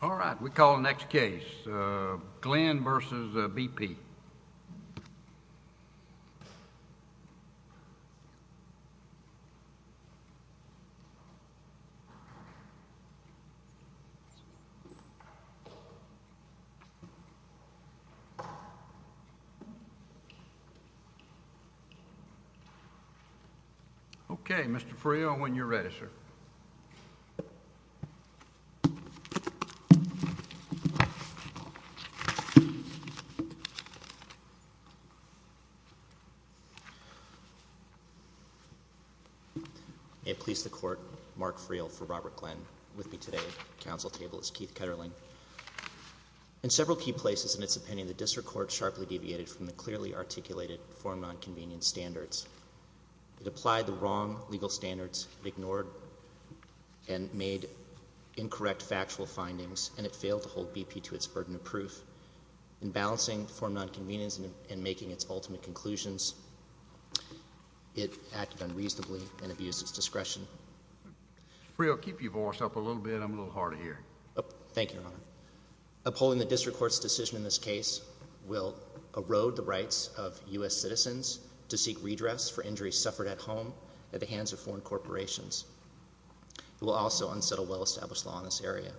All right, we call the next case, Glenn v. BP. Okay, Mr. Freo, when you're ready, sir. May it please the Court, Mark Freo for Robert Glenn. With me today at the Council table is Keith Ketterling. In several key places in its opinion, the District Court sharply deviated from the clearly articulated form-nonconvenience standards. It applied the wrong legal standards, ignored and made incorrect factual findings, and it failed to hold BP to its burden of proof. In balancing form-nonconvenience and making its ultimate conclusions, it acted unreasonably and abused its discretion. Mr. Freo, keep your voice up a little bit. I'm a little hard of hearing. Thank you, Your Honor. Upholding the District Court's decision in this case will erode the rights of U.S. citizens to seek redress for injuries suffered at home at the hands of foreign corporations. It will also unsettle well-established law in this area.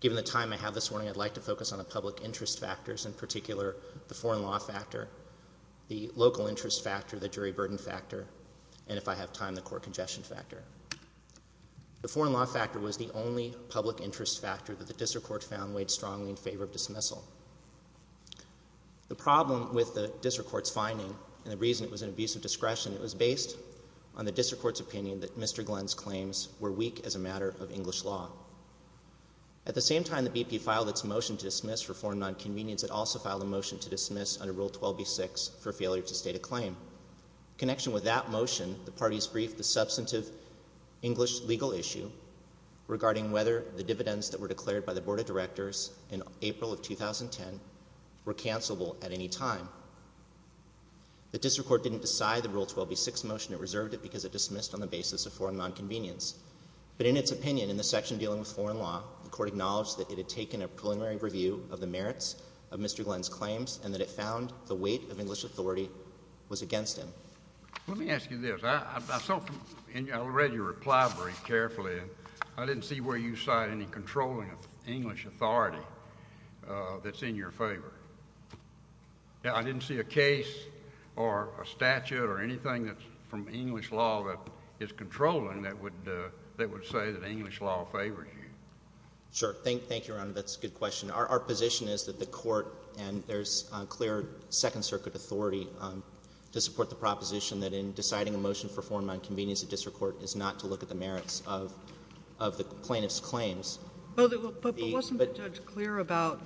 Given the time I have this morning, I'd like to focus on the public interest factors, in particular the foreign law factor, the local interest factor, the jury burden factor, and if I have time, the court congestion factor. The foreign law factor was the only public interest factor that the District Court found weighed strongly in favor of dismissal. The problem with the District Court's finding and the reason it was an abuse of discretion, it was based on the District Court's opinion that Mr. Glenn's claims were weak as a matter of English law. At the same time that BP filed its motion to dismiss for form-nonconvenience, it also filed a motion to dismiss under Rule 12b-6 for failure to state a claim. In connection with that motion, the parties briefed the substantive English legal issue regarding whether the dividends that were declared by the Board of Directors in April of 2010 were cancelable at any time. The District Court didn't decide the Rule 12b-6 motion. It reserved it because it dismissed on the basis of form-nonconvenience. But in its opinion in the section dealing with foreign law, the Court acknowledged that it had taken a preliminary review of the merits of Mr. Glenn's claims and that it found the weight of English authority was against him. Let me ask you this. I read your reply very carefully, and I didn't see where you cite any controlling of English authority that's in your favor. I didn't see a case or a statute or anything that's from English law that is controlling that would say that English law favors you. Sure. Thank you, Your Honor. That's a good question. Our position is that the Court, and there's clear Second Circuit authority to support the proposition that in deciding a motion for form-nonconvenience, the District Court is not to look at the merits of the plaintiff's claims. But wasn't the judge clear about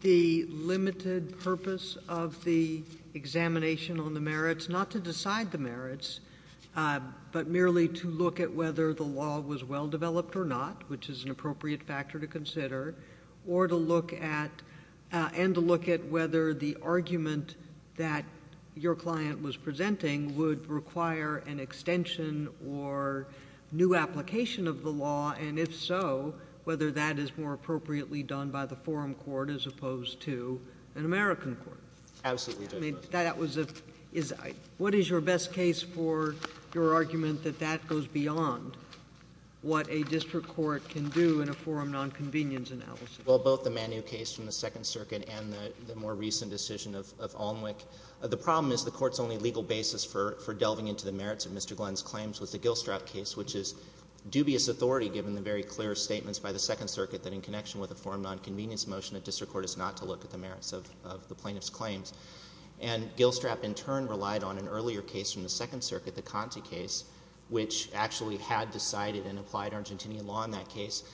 the limited purpose of the examination on the merits, not to decide the merits, but merely to look at whether the law was well-developed or not, which is an appropriate factor to consider, or to look at, and to look at whether the argument that your client was presenting would require an extension or new application of the law, and if so, whether that is more appropriately done by the forum court as opposed to an American court? Absolutely. What is your best case for your argument that that goes beyond what a District Court can do in a form-nonconvenience analysis? Well, both the Manu case from the Second Circuit and the more recent decision of Alnwick. The problem is the Court's only legal basis for delving into the merits of Mr. Glenn's claims was the Gilstrap case, which is dubious authority given the very clear statements by the Second Circuit that in connection with a form-nonconvenience motion, a District Court is not to look at the merits of the plaintiff's claims. And Gilstrap, in turn, relied on an earlier case from the Second Circuit, the Conte case, which actually had decided and applied Argentinian law in that case.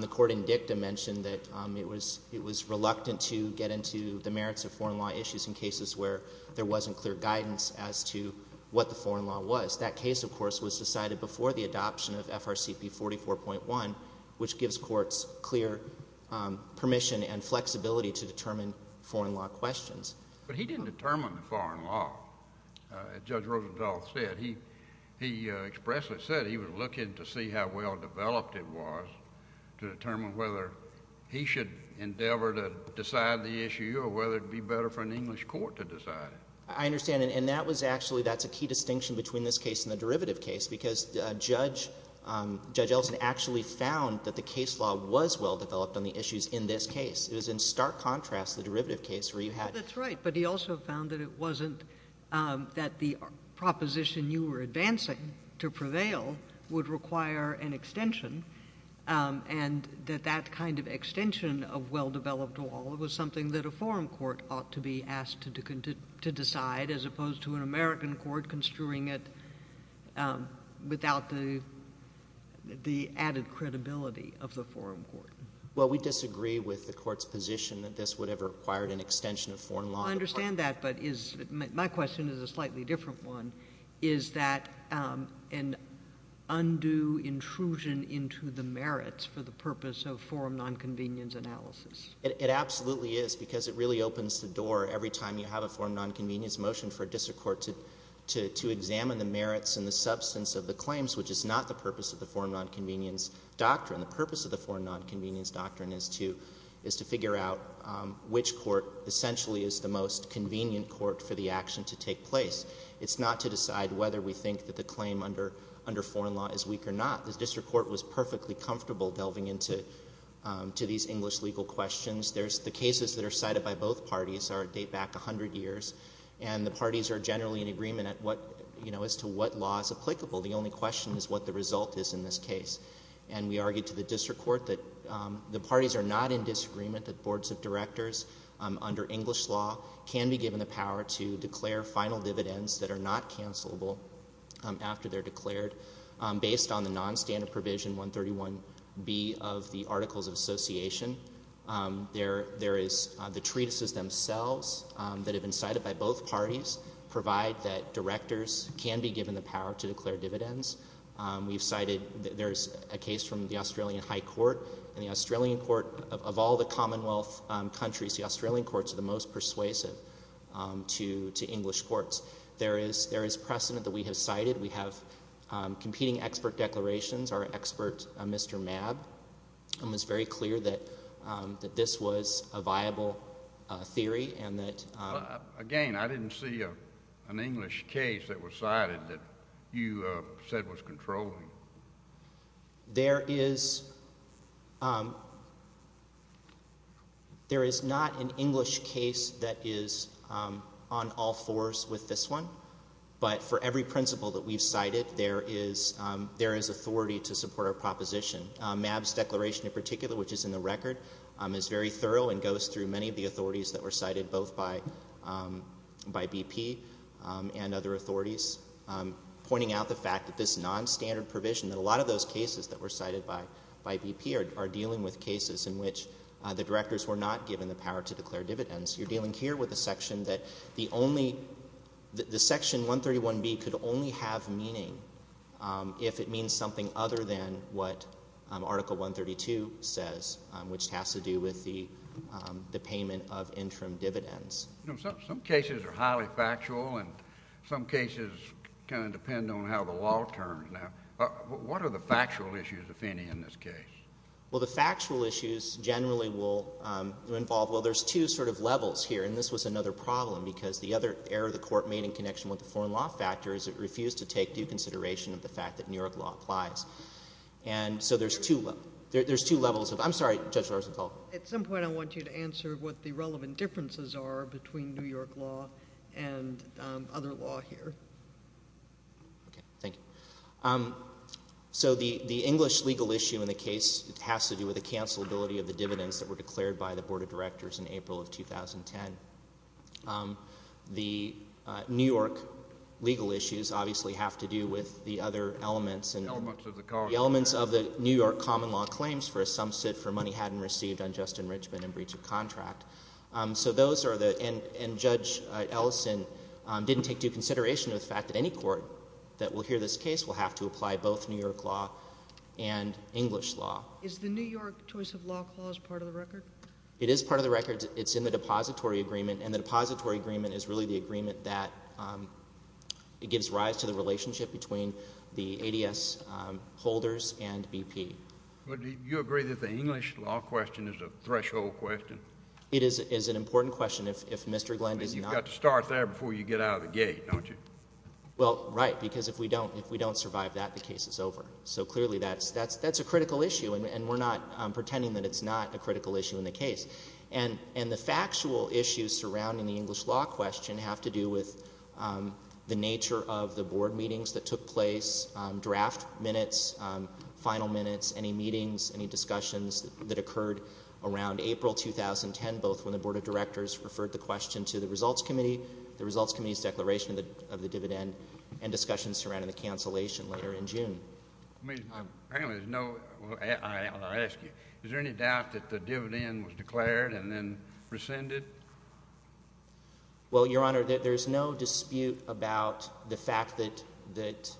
The court in Dicta mentioned that it was reluctant to get into the merits of foreign law issues in cases where there wasn't clear guidance as to what the foreign law was. That case, of course, was decided before the adoption of FRCP 44.1, which gives courts clear permission and flexibility to determine foreign law questions. But he didn't determine the foreign law, as Judge Rosenthal said. He expressly said he was looking to see how well developed it was to determine whether he should endeavor to decide the issue or whether it would be better for an English court to decide it. I understand. And that was actually — that's a key distinction between this case and the derivative case, because Judge Elson actually found that the case law was well developed on the issues in this case. It was in stark contrast to the derivative case where you had — That's right. But he also found that it wasn't — that the proposition you were advancing to prevail would require an extension, and that that kind of extension of well-developed law was something that a foreign court ought to be asked to decide, as opposed to an American court construing it without the added credibility of the foreign court. Well, we disagree with the court's position that this would have required an extension of foreign law. I understand that, but is — my question is a slightly different one. Is that an undue intrusion into the merits for the purpose of foreign nonconvenience analysis? It absolutely is, because it really opens the door every time you have a foreign nonconvenience motion for a district court to examine the merits and the substance of the claims, which is not the purpose of the foreign nonconvenience doctrine. The purpose of the foreign nonconvenience doctrine is to figure out which court essentially is the most convenient court for the action to take place. It's not to decide whether we think that the claim under foreign law is weak or not. The district court was perfectly comfortable delving into these English legal questions. The cases that are cited by both parties date back 100 years, and the parties are generally in agreement as to what law is applicable. The only question is what the result is in this case. And we argued to the district court that the parties are not in disagreement that boards of directors under English law can be given the power to declare final dividends that are not cancelable after they're declared, based on the nonstandard provision 131B of the Articles of Association. There is the treatises themselves that have been cited by both parties provide that directors can be given the power to declare dividends. We've cited—there's a case from the Australian High Court, and the Australian court—of all the Commonwealth countries, the Australian courts are the most persuasive to English courts. There is precedent that we have cited. We have competing expert declarations. Our expert, Mr. Mabb, was very clear that this was a viable theory and that— Again, I didn't see an English case that was cited that you said was controlling. There is not an English case that is on all fours with this one. But for every principle that we've cited, there is authority to support our proposition. Mabb's declaration in particular, which is in the record, is very thorough and goes through many of the authorities that were cited, both by BP and other authorities, pointing out the fact that this nonstandard provision, that a lot of those cases that were cited by BP are dealing with cases in which the directors were not given the power to declare dividends. You're dealing here with a section that the only—the Section 131B could only have meaning if it means something other than what Article 132 says, which has to do with the payment of interim dividends. Some cases are highly factual, and some cases kind of depend on how the law turns. Now, what are the factual issues, if any, in this case? Well, the factual issues generally will involve—well, there's two sort of levels here, and this was another problem because the other error the Court made in connection with the foreign law factor is it refused to take due consideration of the fact that New York law applies. And so there's two levels of—I'm sorry, Judge Larzenfeld. At some point, I want you to answer what the relevant differences are between New York law and other law here. Okay. Thank you. So the English legal issue in the case has to do with the cancelability of the dividends that were declared by the Board of Directors in April of 2010. The New York legal issues obviously have to do with the other elements and— The elements of the common law. for money hadn't received on just enrichment and breach of contract. So those are the—and Judge Ellison didn't take due consideration of the fact that any court that will hear this case will have to apply both New York law and English law. Is the New York choice of law clause part of the record? It is part of the record. It's in the depository agreement, and the depository agreement is really the agreement that it gives rise to the relationship between the ADS holders and BP. Well, do you agree that the English law question is a threshold question? It is an important question if Mr. Glenn does not— You've got to start there before you get out of the gate, don't you? Well, right, because if we don't survive that, the case is over. So clearly that's a critical issue, and we're not pretending that it's not a critical issue in the case. And the factual issues surrounding the English law question have to do with the nature of the Board meetings that took place, draft minutes, final minutes, any meetings, any discussions that occurred around April 2010, both when the Board of Directors referred the question to the Results Committee, the Results Committee's declaration of the dividend, and discussions surrounding the cancellation later in June. I mean, apparently there's no—I'll ask you. Is there any doubt that the dividend was declared and then rescinded? Well, Your Honor, there's no dispute about the fact that—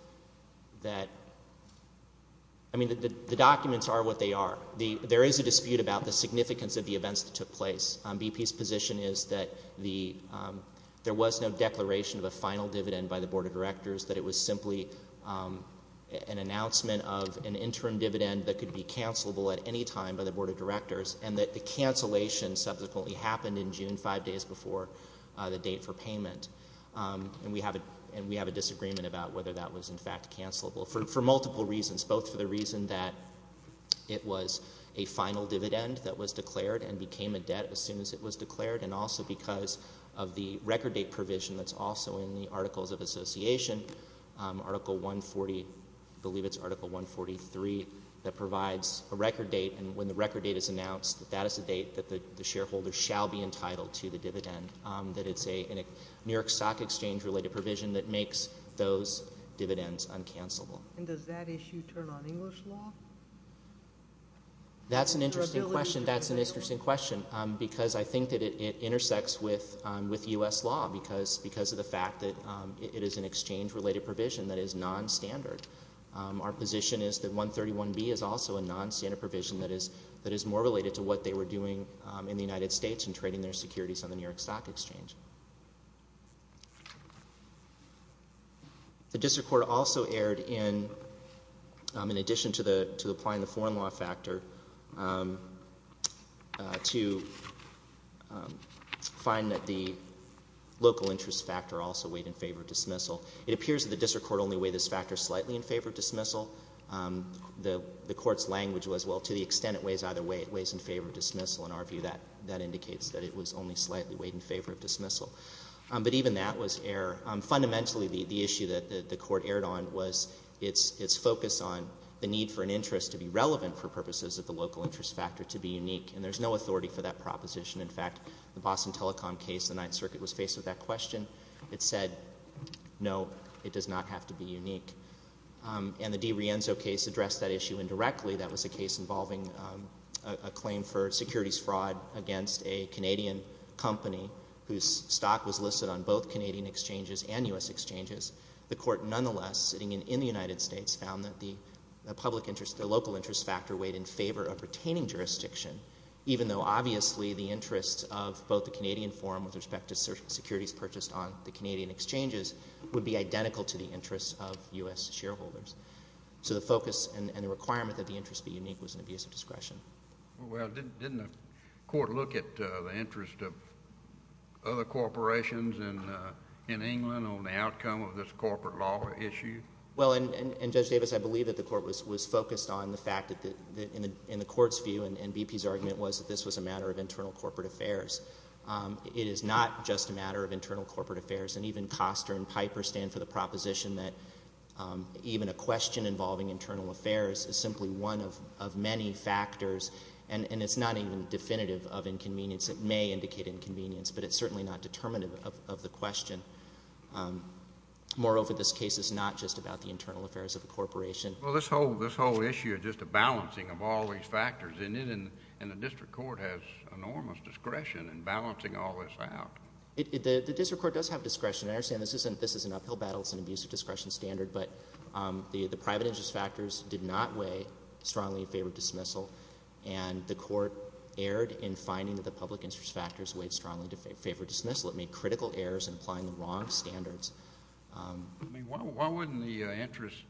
I mean, the documents are what they are. There is a dispute about the significance of the events that took place. BP's position is that there was no declaration of a final dividend by the Board of Directors, that it was simply an announcement of an interim dividend that could be cancelable at any time by the Board of Directors, and that the cancellation subsequently happened in June, five days before the date for payment. And we have a disagreement about whether that was in fact cancelable for multiple reasons, both for the reason that it was a final dividend that was declared and became a debt as soon as it was declared, and also because of the record date provision that's also in the Articles of Association, Article 140—I believe it's Article 143—that provides a record date, and when the record date is announced, that is the date that the shareholder shall be entitled to the dividend, that it's a New York Stock Exchange-related provision that makes those dividends uncancelable. And does that issue turn on English law? That's an interesting question, because I think that it intersects with U.S. law because of the fact that it is an exchange-related provision that is nonstandard. Our position is that 131B is also a nonstandard provision that is more related to what they were doing in the United States in trading their securities on the New York Stock Exchange. The district court also erred in addition to applying the foreign law factor to find that the local interest factor also weighed in favor of dismissal. It appears that the district court only weighed this factor slightly in favor of dismissal. The court's language was, well, to the extent it weighs either way, it weighs in favor of dismissal. In our view, that indicates that it was only slightly weighed in favor of dismissal. But even that was error. Fundamentally, the issue that the court erred on was its focus on the need for an interest to be relevant for purposes of the local interest factor to be unique, and there's no authority for that proposition. In fact, the Boston Telecom case, the Ninth Circuit was faced with that question. It said, no, it does not have to be unique. And the DiRienzo case addressed that issue indirectly. That was a case involving a claim for securities fraud against a Canadian company whose stock was listed on both Canadian exchanges and U.S. exchanges. The court nonetheless, sitting in the United States, found that the local interest factor weighed in favor of retaining jurisdiction, even though obviously the interest of both the Canadian forum with respect to securities purchased on the Canadian exchanges would be identical to the interest of U.S. shareholders. So the focus and the requirement that the interest be unique was an abuse of discretion. Well, didn't the court look at the interest of other corporations in England on the outcome of this corporate law issue? Well, and Judge Davis, I believe that the court was focused on the fact that, in the court's view and BP's argument, was that this was a matter of internal corporate affairs. It is not just a matter of internal corporate affairs, and even Koster and Piper stand for the proposition that even a question involving internal affairs is simply one of many factors, and it's not even definitive of inconvenience. It may indicate inconvenience, but it's certainly not determinative of the question. Moreover, this case is not just about the internal affairs of a corporation. Well, this whole issue is just a balancing of all these factors, isn't it? And the district court has enormous discretion in balancing all this out. The district court does have discretion. I understand this is an uphill battle. It's an abuse of discretion standard, but the private interest factors did not weigh strongly in favor of dismissal, and the court erred in finding that the public interest factors weighed strongly in favor of dismissal. It made critical errors in applying the wrong standards. Why wouldn't the interest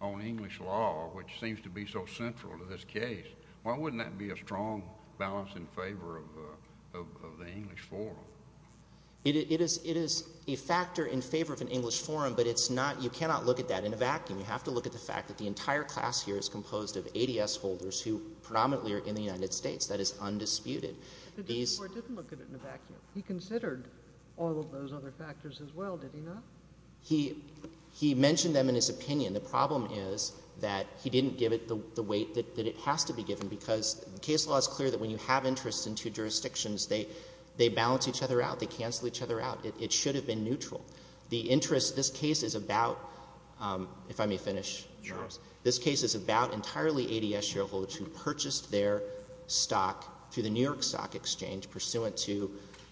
on English law, which seems to be so central to this case, why wouldn't that be a strong balance in favor of the English forum? It is a factor in favor of an English forum, but you cannot look at that in a vacuum. You have to look at the fact that the entire class here is composed of ADS holders who predominantly are in the United States. That is undisputed. The district court didn't look at it in a vacuum. He considered all of those other factors as well, did he not? He mentioned them in his opinion. The problem is that he didn't give it the weight that it has to be given because the case law is clear that when you have interests in two jurisdictions, they balance each other out, they cancel each other out. It should have been neutral. The interest in this case is about, if I may finish. Sure. This case is about entirely ADS shareholders who purchased their stock through the New York Stock Exchange pursuant to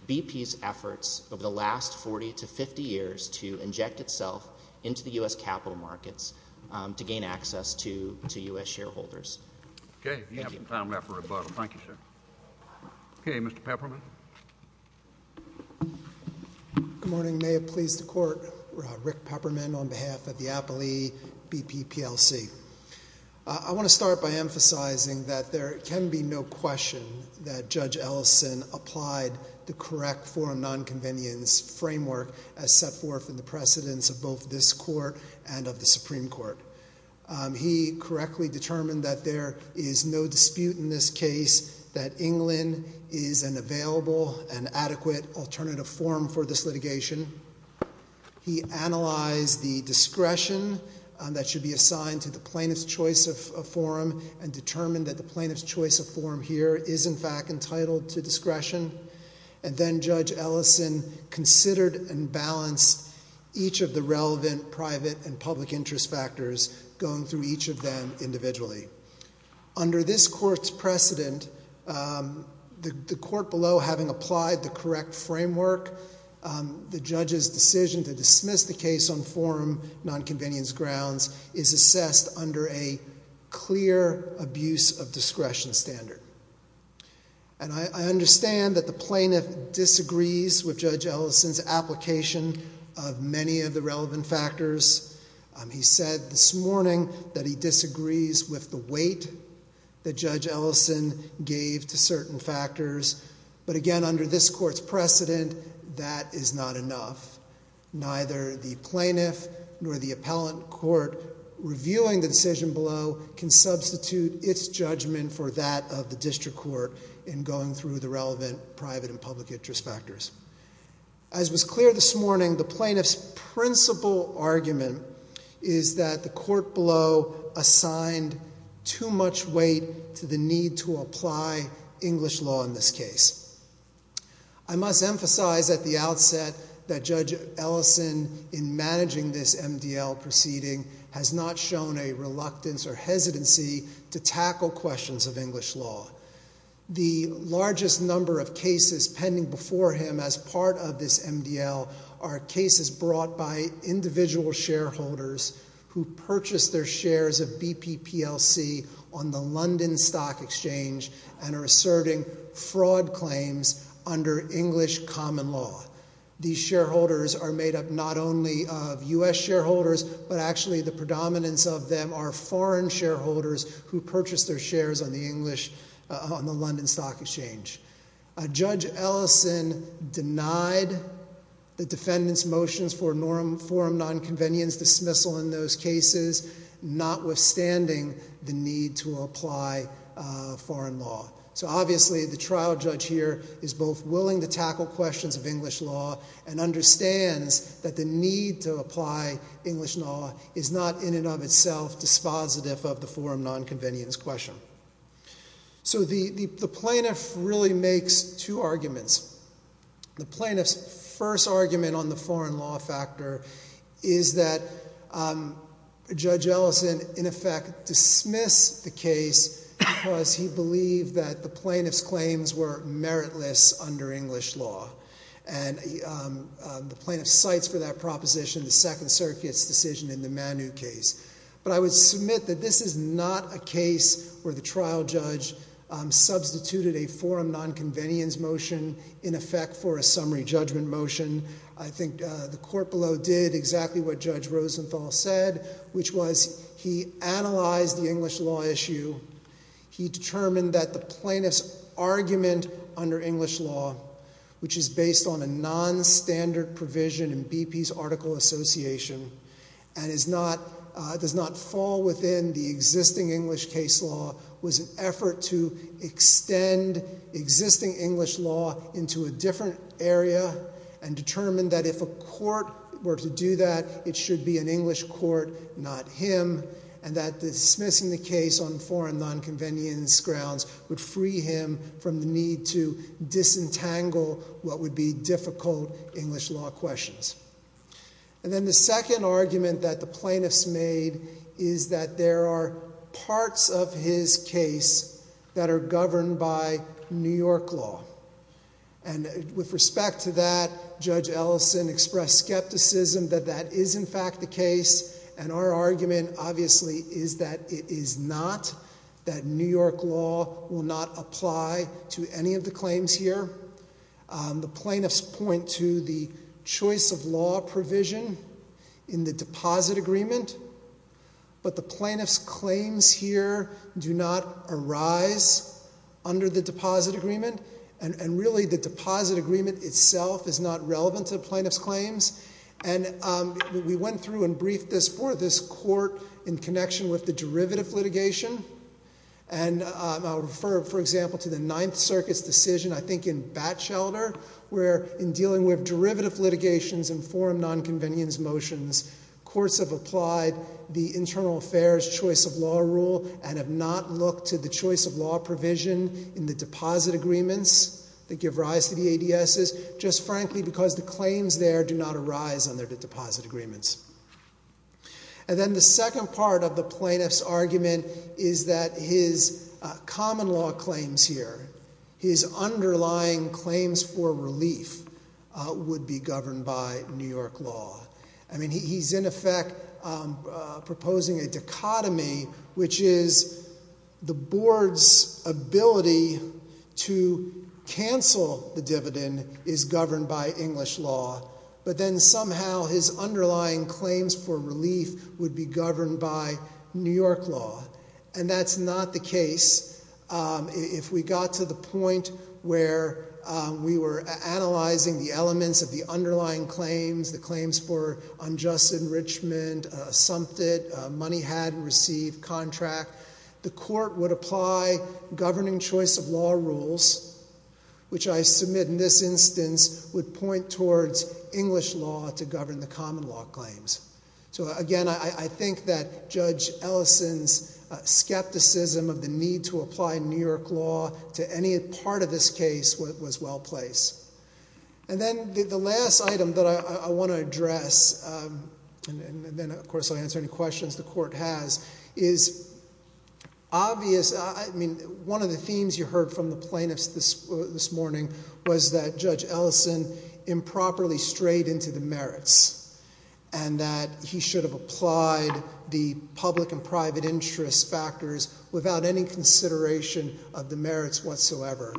BP's efforts over the last 40 to 50 years to inject itself into the U.S. capital markets to gain access to U.S. shareholders. Okay. We have some time left for rebuttal. Thank you, sir. Okay. Mr. Peppermint. Good morning. May it please the Court. Rick Peppermint on behalf of the Appalachee BP PLC. I want to start by emphasizing that there can be no question that Judge Ellison applied the correct forum nonconvenience framework as set forth in the precedence of both this Court and of the Supreme Court. He correctly determined that there is no dispute in this case that England is an available and adequate alternative forum for this litigation. He analyzed the discretion that should be assigned to the plaintiff's choice of forum and determined that the plaintiff's choice of forum here is, in fact, entitled to discretion. And then Judge Ellison considered and balanced each of the relevant private and public interest factors going through each of them individually. Under this Court's precedent, the Court below, having applied the correct framework, the judge's decision to dismiss the case on forum nonconvenience grounds is assessed under a clear abuse of discretion standard. And I understand that the plaintiff disagrees with Judge Ellison's application of many of the relevant factors. He said this morning that he disagrees with the weight that Judge Ellison gave to certain factors. But again, under this Court's precedent, that is not enough. Neither the plaintiff nor the appellant court reviewing the decision below can substitute its judgment for that of the district court in going through the relevant private and public interest factors. As was clear this morning, the plaintiff's principal argument is that the Court below assigned too much weight to the need to apply English law in this case. I must emphasize at the outset that Judge Ellison, in managing this MDL proceeding, has not shown a reluctance or hesitancy to tackle questions of English law. The largest number of cases pending before him as part of this MDL are cases brought by individual shareholders who purchased their shares of BP PLC on the London Stock Exchange and are asserting fraud claims under English common law. These shareholders are made up not only of US shareholders, but actually the predominance of them are foreign shareholders who purchased their shares on the London Stock Exchange. Judge Ellison denied the defendant's motions for forum nonconvenience dismissal in those cases, notwithstanding the need to apply foreign law. So obviously the trial judge here is both willing to tackle questions of English law and understands that the need to apply English law is not in and of itself dispositive of the forum nonconvenience question. So the plaintiff really makes two arguments. The plaintiff's first argument on the foreign law factor is that Judge Ellison in effect dismissed the case because he believed that the plaintiff's claims were meritless under English law. And the plaintiff cites for that proposition the Second Circuit's decision in the Manu case. But I would submit that this is not a case where the trial judge substituted a forum nonconvenience motion in effect for a summary judgment motion. I think the court below did exactly what Judge Rosenthal said, which was he analyzed the English law issue. He determined that the plaintiff's argument under English law, which is based on a nonstandard provision in BP's article association and does not fall within the existing English case law, was an effort to extend existing English law into a different area and determined that if a court were to do that, it should be an English court, not him. And that dismissing the case on foreign nonconvenience grounds would free him from the need to disentangle what would be difficult English law questions. And then the second argument that the plaintiffs made is that there are parts of his case that are governed by New York law. And with respect to that, Judge Ellison expressed skepticism that that is in fact the case. And our argument, obviously, is that it is not, that New York law will not apply to any of the claims here. The plaintiffs point to the choice of law provision in the deposit agreement, but the plaintiff's claims here do not arise under the deposit agreement. And really, the deposit agreement itself is not relevant to the plaintiff's claims. And we went through and briefed this for this court in connection with the derivative litigation. And I'll refer, for example, to the Ninth Circuit's decision, I think in Batchelder, where in dealing with derivative litigations and foreign nonconvenience motions, courts have applied the internal affairs choice of law rule and have not looked to the choice of law provision in the deposit agreements that give rise to the ADSs, just frankly because the claims there do not arise under the deposit agreements. And then the second part of the plaintiff's argument is that his common law claims here, his underlying claims for relief, would be governed by New York law. I mean, he's in effect proposing a dichotomy, which is the board's ability to cancel the dividend is governed by English law, but then somehow his underlying claims for relief would be governed by New York law. And that's not the case. If we got to the point where we were analyzing the elements of the underlying claims, the claims for unjust enrichment, something, money had received, contract, the court would apply governing choice of law rules, which I submit in this instance would point towards English law to govern the common law claims. So again, I think that Judge Ellison's skepticism of the need to apply New York law to any part of this case was well placed. And then the last item that I want to address, and then of course I'll answer any questions the court has, is obvious, I mean, one of the themes you heard from the plaintiffs this morning was that Judge Ellison improperly strayed into the merits, and that he should have applied the public and private interest factors without any consideration of the merits whatsoever.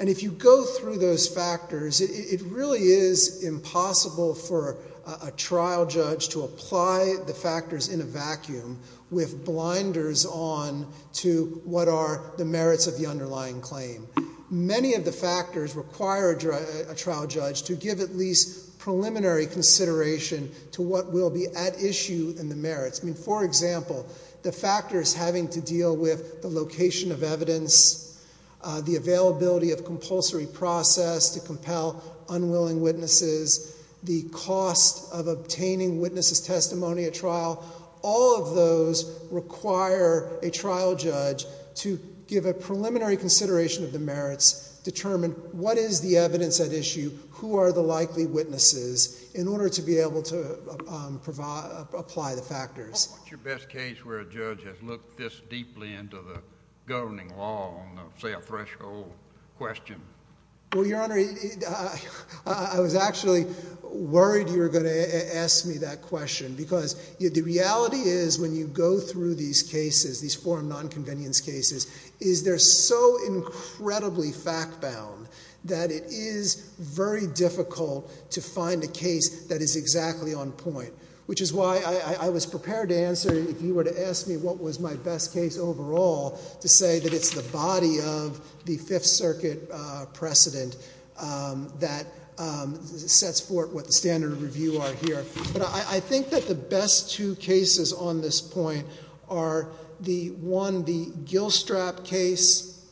And if you go through those factors, it really is impossible for a trial judge to apply the factors in a vacuum with blinders on to what are the merits of the underlying claim. Many of the factors require a trial judge to give at least preliminary consideration to what will be at issue in the merits. I mean, for example, the factors having to deal with the location of evidence, the availability of compulsory process to compel unwilling witnesses, the cost of obtaining witnesses' testimony at trial, all of those require a trial judge to give a preliminary consideration of the merits, determine what is the evidence at issue, who are the likely witnesses, What's your best case where a judge has looked this deeply into the governing law on, say, a threshold question? Well, Your Honor, I was actually worried you were going to ask me that question because the reality is when you go through these cases, these forum non-convenience cases, is they're so incredibly fact-bound that it is very difficult to find a case that is exactly on point, which is why I was prepared to answer if you were to ask me what was my best case overall to say that it's the body of the Fifth Circuit precedent that sets forth what the standard of review are here. But I think that the best two cases on this point are the one, the Gilstrap case,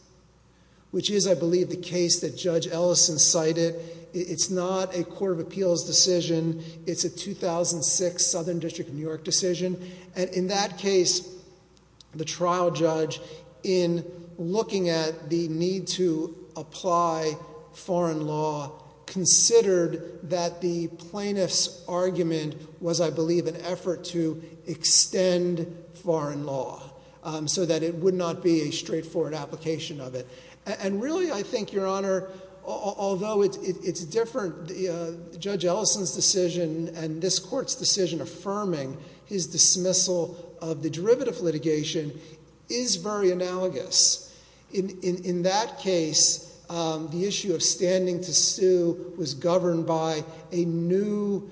which is, I believe, the case that Judge Ellison cited. It's not a court of appeals decision. It's a 2006 Southern District of New York decision. And in that case, the trial judge, in looking at the need to apply foreign law, considered that the plaintiff's argument was, I believe, an effort to extend foreign law so that it would not be a straightforward application of it. And really, I think, Your Honor, although it's different, Judge Ellison's decision and this court's decision affirming his dismissal of the derivative litigation is very analogous. In that case, the issue of standing to sue was governed by a new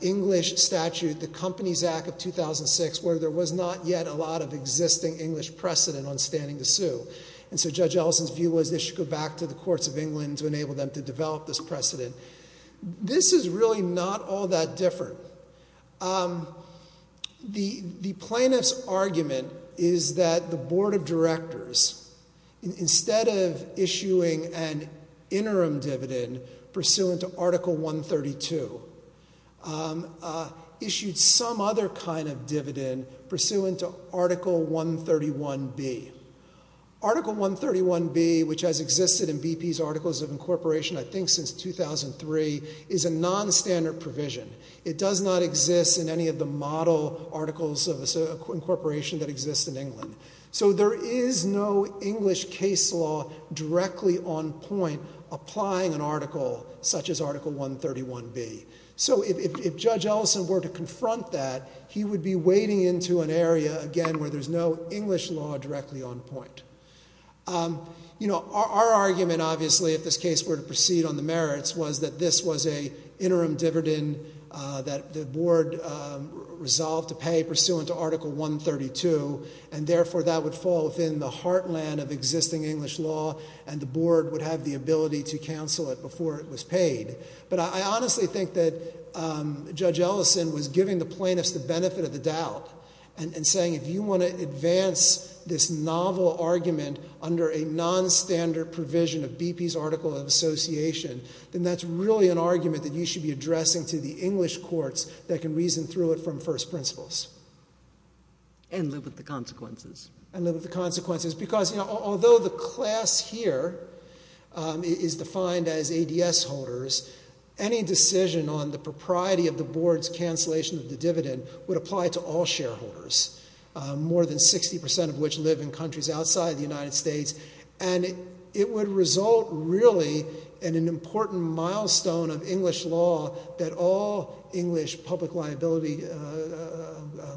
English statute, the Companies Act of 2006, where there was not yet a lot of existing English precedent on standing to sue. And so Judge Ellison's view was they should go back to the courts of England to enable them to develop this precedent. This is really not all that different. The plaintiff's argument is that the board of directors, instead of issuing an interim dividend pursuant to Article 132, issued some other kind of dividend pursuant to Article 131B. Article 131B, which has existed in BP's Articles of Incorporation, I think, since 2003, is a nonstandard provision. It does not exist in any of the model articles of incorporation that exist in England. So there is no English case law directly on point applying an article such as Article 131B. So if Judge Ellison were to confront that, he would be wading into an area, again, where there's no English law directly on point. Our argument, obviously, if this case were to proceed on the merits, was that this was an interim dividend that the board resolved to pay pursuant to Article 132, and therefore that would fall within the heartland of existing English law, and the board would have the ability to cancel it before it was paid. But I honestly think that Judge Ellison was giving the plaintiffs the benefit of the doubt and saying if you want to advance this novel argument under a nonstandard provision of BP's Articles of Incorporation, then that's really an argument that you should be addressing to the English courts that can reason through it from first principles. And live with the consequences. And live with the consequences. Because, you know, although the class here is defined as ADS holders, any decision on the propriety of the board's cancellation of the dividend would apply to all shareholders, more than 60% of which live in countries outside the United States. And it would result, really, in an important milestone of English law that all English public liability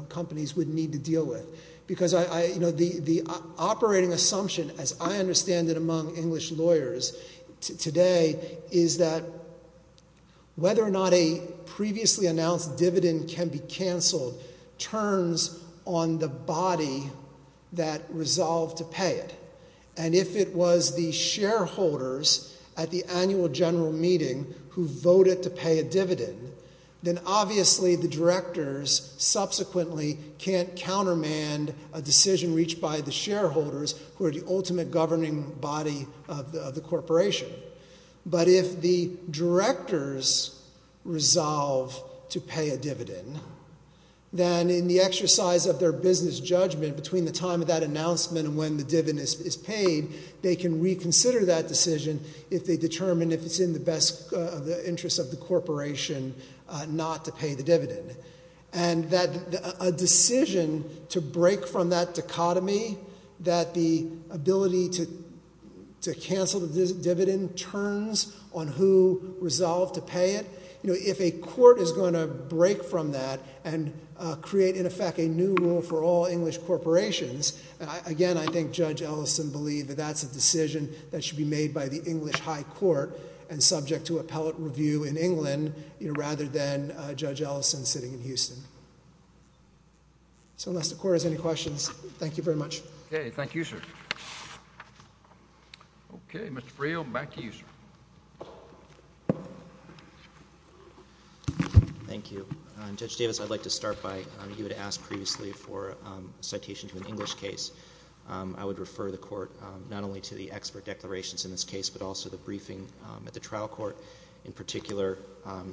companies would need to deal with. Because the operating assumption, as I understand it among English lawyers today, is that whether or not a previously announced dividend can be canceled turns on the body that resolved to pay it. And if it was the shareholders at the annual general meeting who voted to pay a dividend, then obviously the directors subsequently can't countermand a decision reached by the shareholders, who are the ultimate governing body of the corporation. But if the directors resolve to pay a dividend, then in the exercise of their business judgment between the time of that announcement and when the dividend is paid, they can reconsider that decision if they determine if it's in the best interest of the corporation not to pay the dividend. And a decision to break from that dichotomy, that the ability to cancel the dividend turns on who resolved to pay it, if a court is going to break from that and create, in effect, a new rule for all English corporations, again, I think Judge Ellison believed that that's a decision that should be made by the English high court and subject to appellate review in England rather than Judge Ellison sitting in Houston. So unless the court has any questions, thank you very much. Okay, thank you, sir. Okay, Mr. Friel, back to you, sir. Thank you. Judge Davis, I'd like to start by you had asked previously for a citation to an English case. I would refer the court not only to the expert declarations in this case but also the briefing at the trial court. In particular,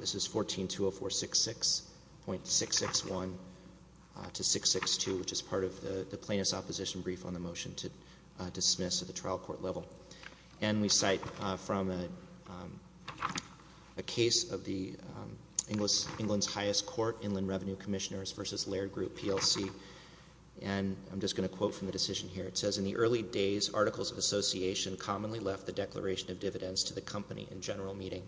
this is 1420466.661 to 662, which is part of the plaintiff's opposition brief on the motion to dismiss at the trial court level. And we cite from a case of the England's highest court, Inland Revenue Commissioners v. Laird Group, PLC, and I'm just going to quote from the decision here. It says, In the early days, Articles of Association commonly left the declaration of dividends to the company in general meeting,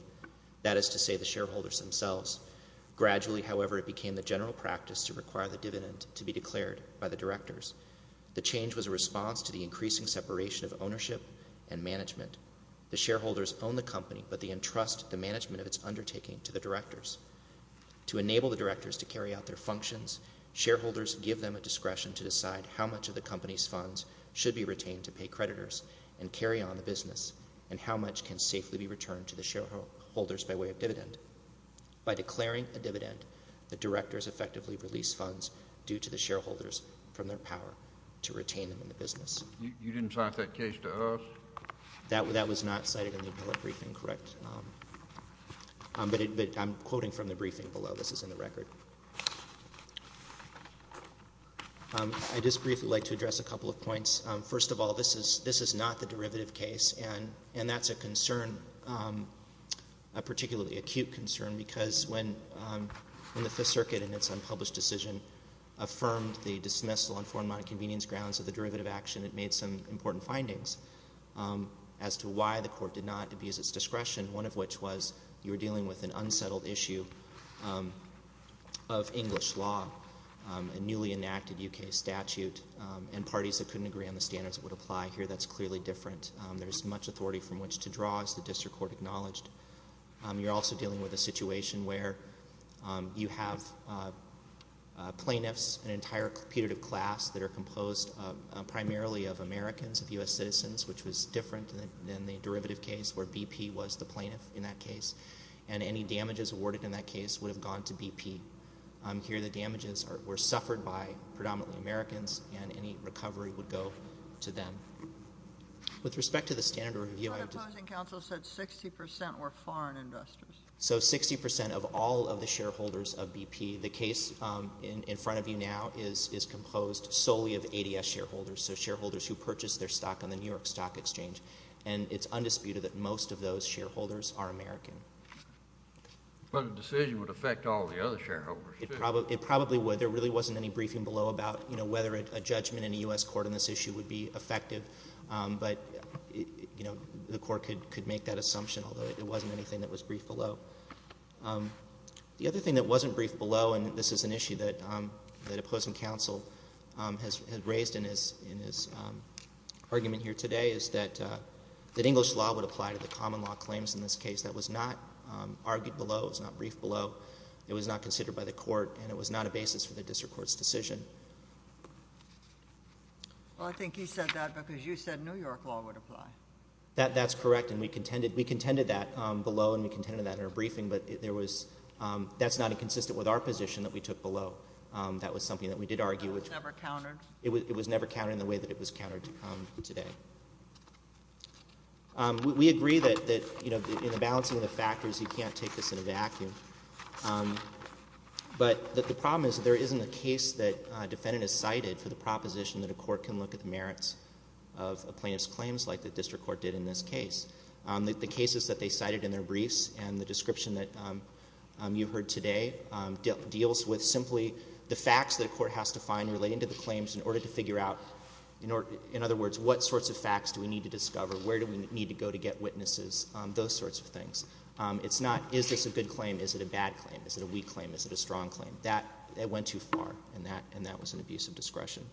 that is to say the shareholders themselves. Gradually, however, it became the general practice to require the dividend to be declared by the directors. The change was a response to the increasing separation of ownership and management. The shareholders own the company, but they entrust the management of its undertaking to the directors. To enable the directors to carry out their functions, shareholders give them a discretion to decide how much of the company's funds should be retained to pay creditors and carry on the business and how much can safely be returned to the shareholders by way of dividend. By declaring a dividend, the directors effectively release funds due to the shareholders from their power to retain them in the business. You didn't cite that case to us? That was not cited in the appellate briefing, correct? But I'm quoting from the briefing below. This is in the record. I'd just briefly like to address a couple of points. First of all, this is not the derivative case, and that's a concern, a particularly acute concern, because when the Fifth Circuit in its unpublished decision affirmed the dismissal on foreign money convenience grounds of the derivative action, it made some important findings as to why the court did not abuse its discretion, one of which was you were dealing with an unsettled issue of English law, a newly enacted U.K. statute, and parties that couldn't agree on the standards that would apply. Here, that's clearly different. There's much authority from which to draw, as the district court acknowledged. You're also dealing with a situation where you have plaintiffs, an entire competitive class, that are composed primarily of Americans, of U.S. citizens, which was different than the derivative case where BP was the plaintiff in that case, and any damages awarded in that case would have gone to BP. Here, the damages were suffered by predominantly Americans, and any recovery would go to them. With respect to the standard review, I have to say- But opposing counsel said 60% were foreign investors. So 60% of all of the shareholders of BP. The case in front of you now is composed solely of ADS shareholders, so shareholders who purchased their stock on the New York Stock Exchange, and it's undisputed that most of those shareholders are American. But a decision would affect all the other shareholders, too. It probably would. There really wasn't any briefing below about whether a judgment in a U.S. court on this issue would be effective, but the court could make that assumption, although it wasn't anything that was briefed below. The other thing that wasn't briefed below, and this is an issue that opposing counsel had raised in his argument here today, is that English law would apply to the common law claims in this case. That was not argued below. It was not briefed below. It was not considered by the court, and it was not a basis for the district court's decision. Well, I think he said that because you said New York law would apply. That's correct, and we contended that below, and we contended that in our briefing, but that's not inconsistent with our position that we took below. That was something that we did argue. It was never countered? It was never countered in the way that it was countered today. We agree that in the balancing of the factors, you can't take this in a vacuum, but the problem is that there isn't a case that a defendant has cited for the proposition that a court can look at the merits of a plaintiff's claims like the district court did in this case. The cases that they cited in their briefs and the description that you heard today deals with simply the facts that a court has to find relating to the claims in order to figure out, in other words, what sorts of facts do we need to discover? Where do we need to go to get witnesses? Those sorts of things. It's not, is this a good claim? Is it a bad claim? Is it a weak claim? Is it a strong claim? That went too far, and that was an abuse of discretion.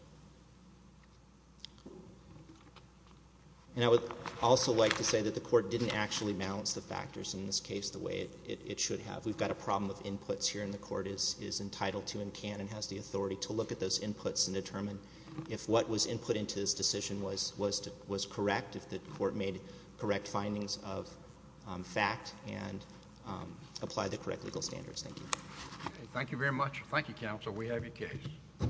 And I would also like to say that the court didn't actually balance the factors in this case the way it should have. We've got a problem of inputs here, and the court is entitled to and can and has the authority to look at those inputs and determine if what was input into this decision was correct, if the court made correct findings of fact and applied the correct legal standards. Thank you. Thank you very much. Thank you, counsel. We have your case.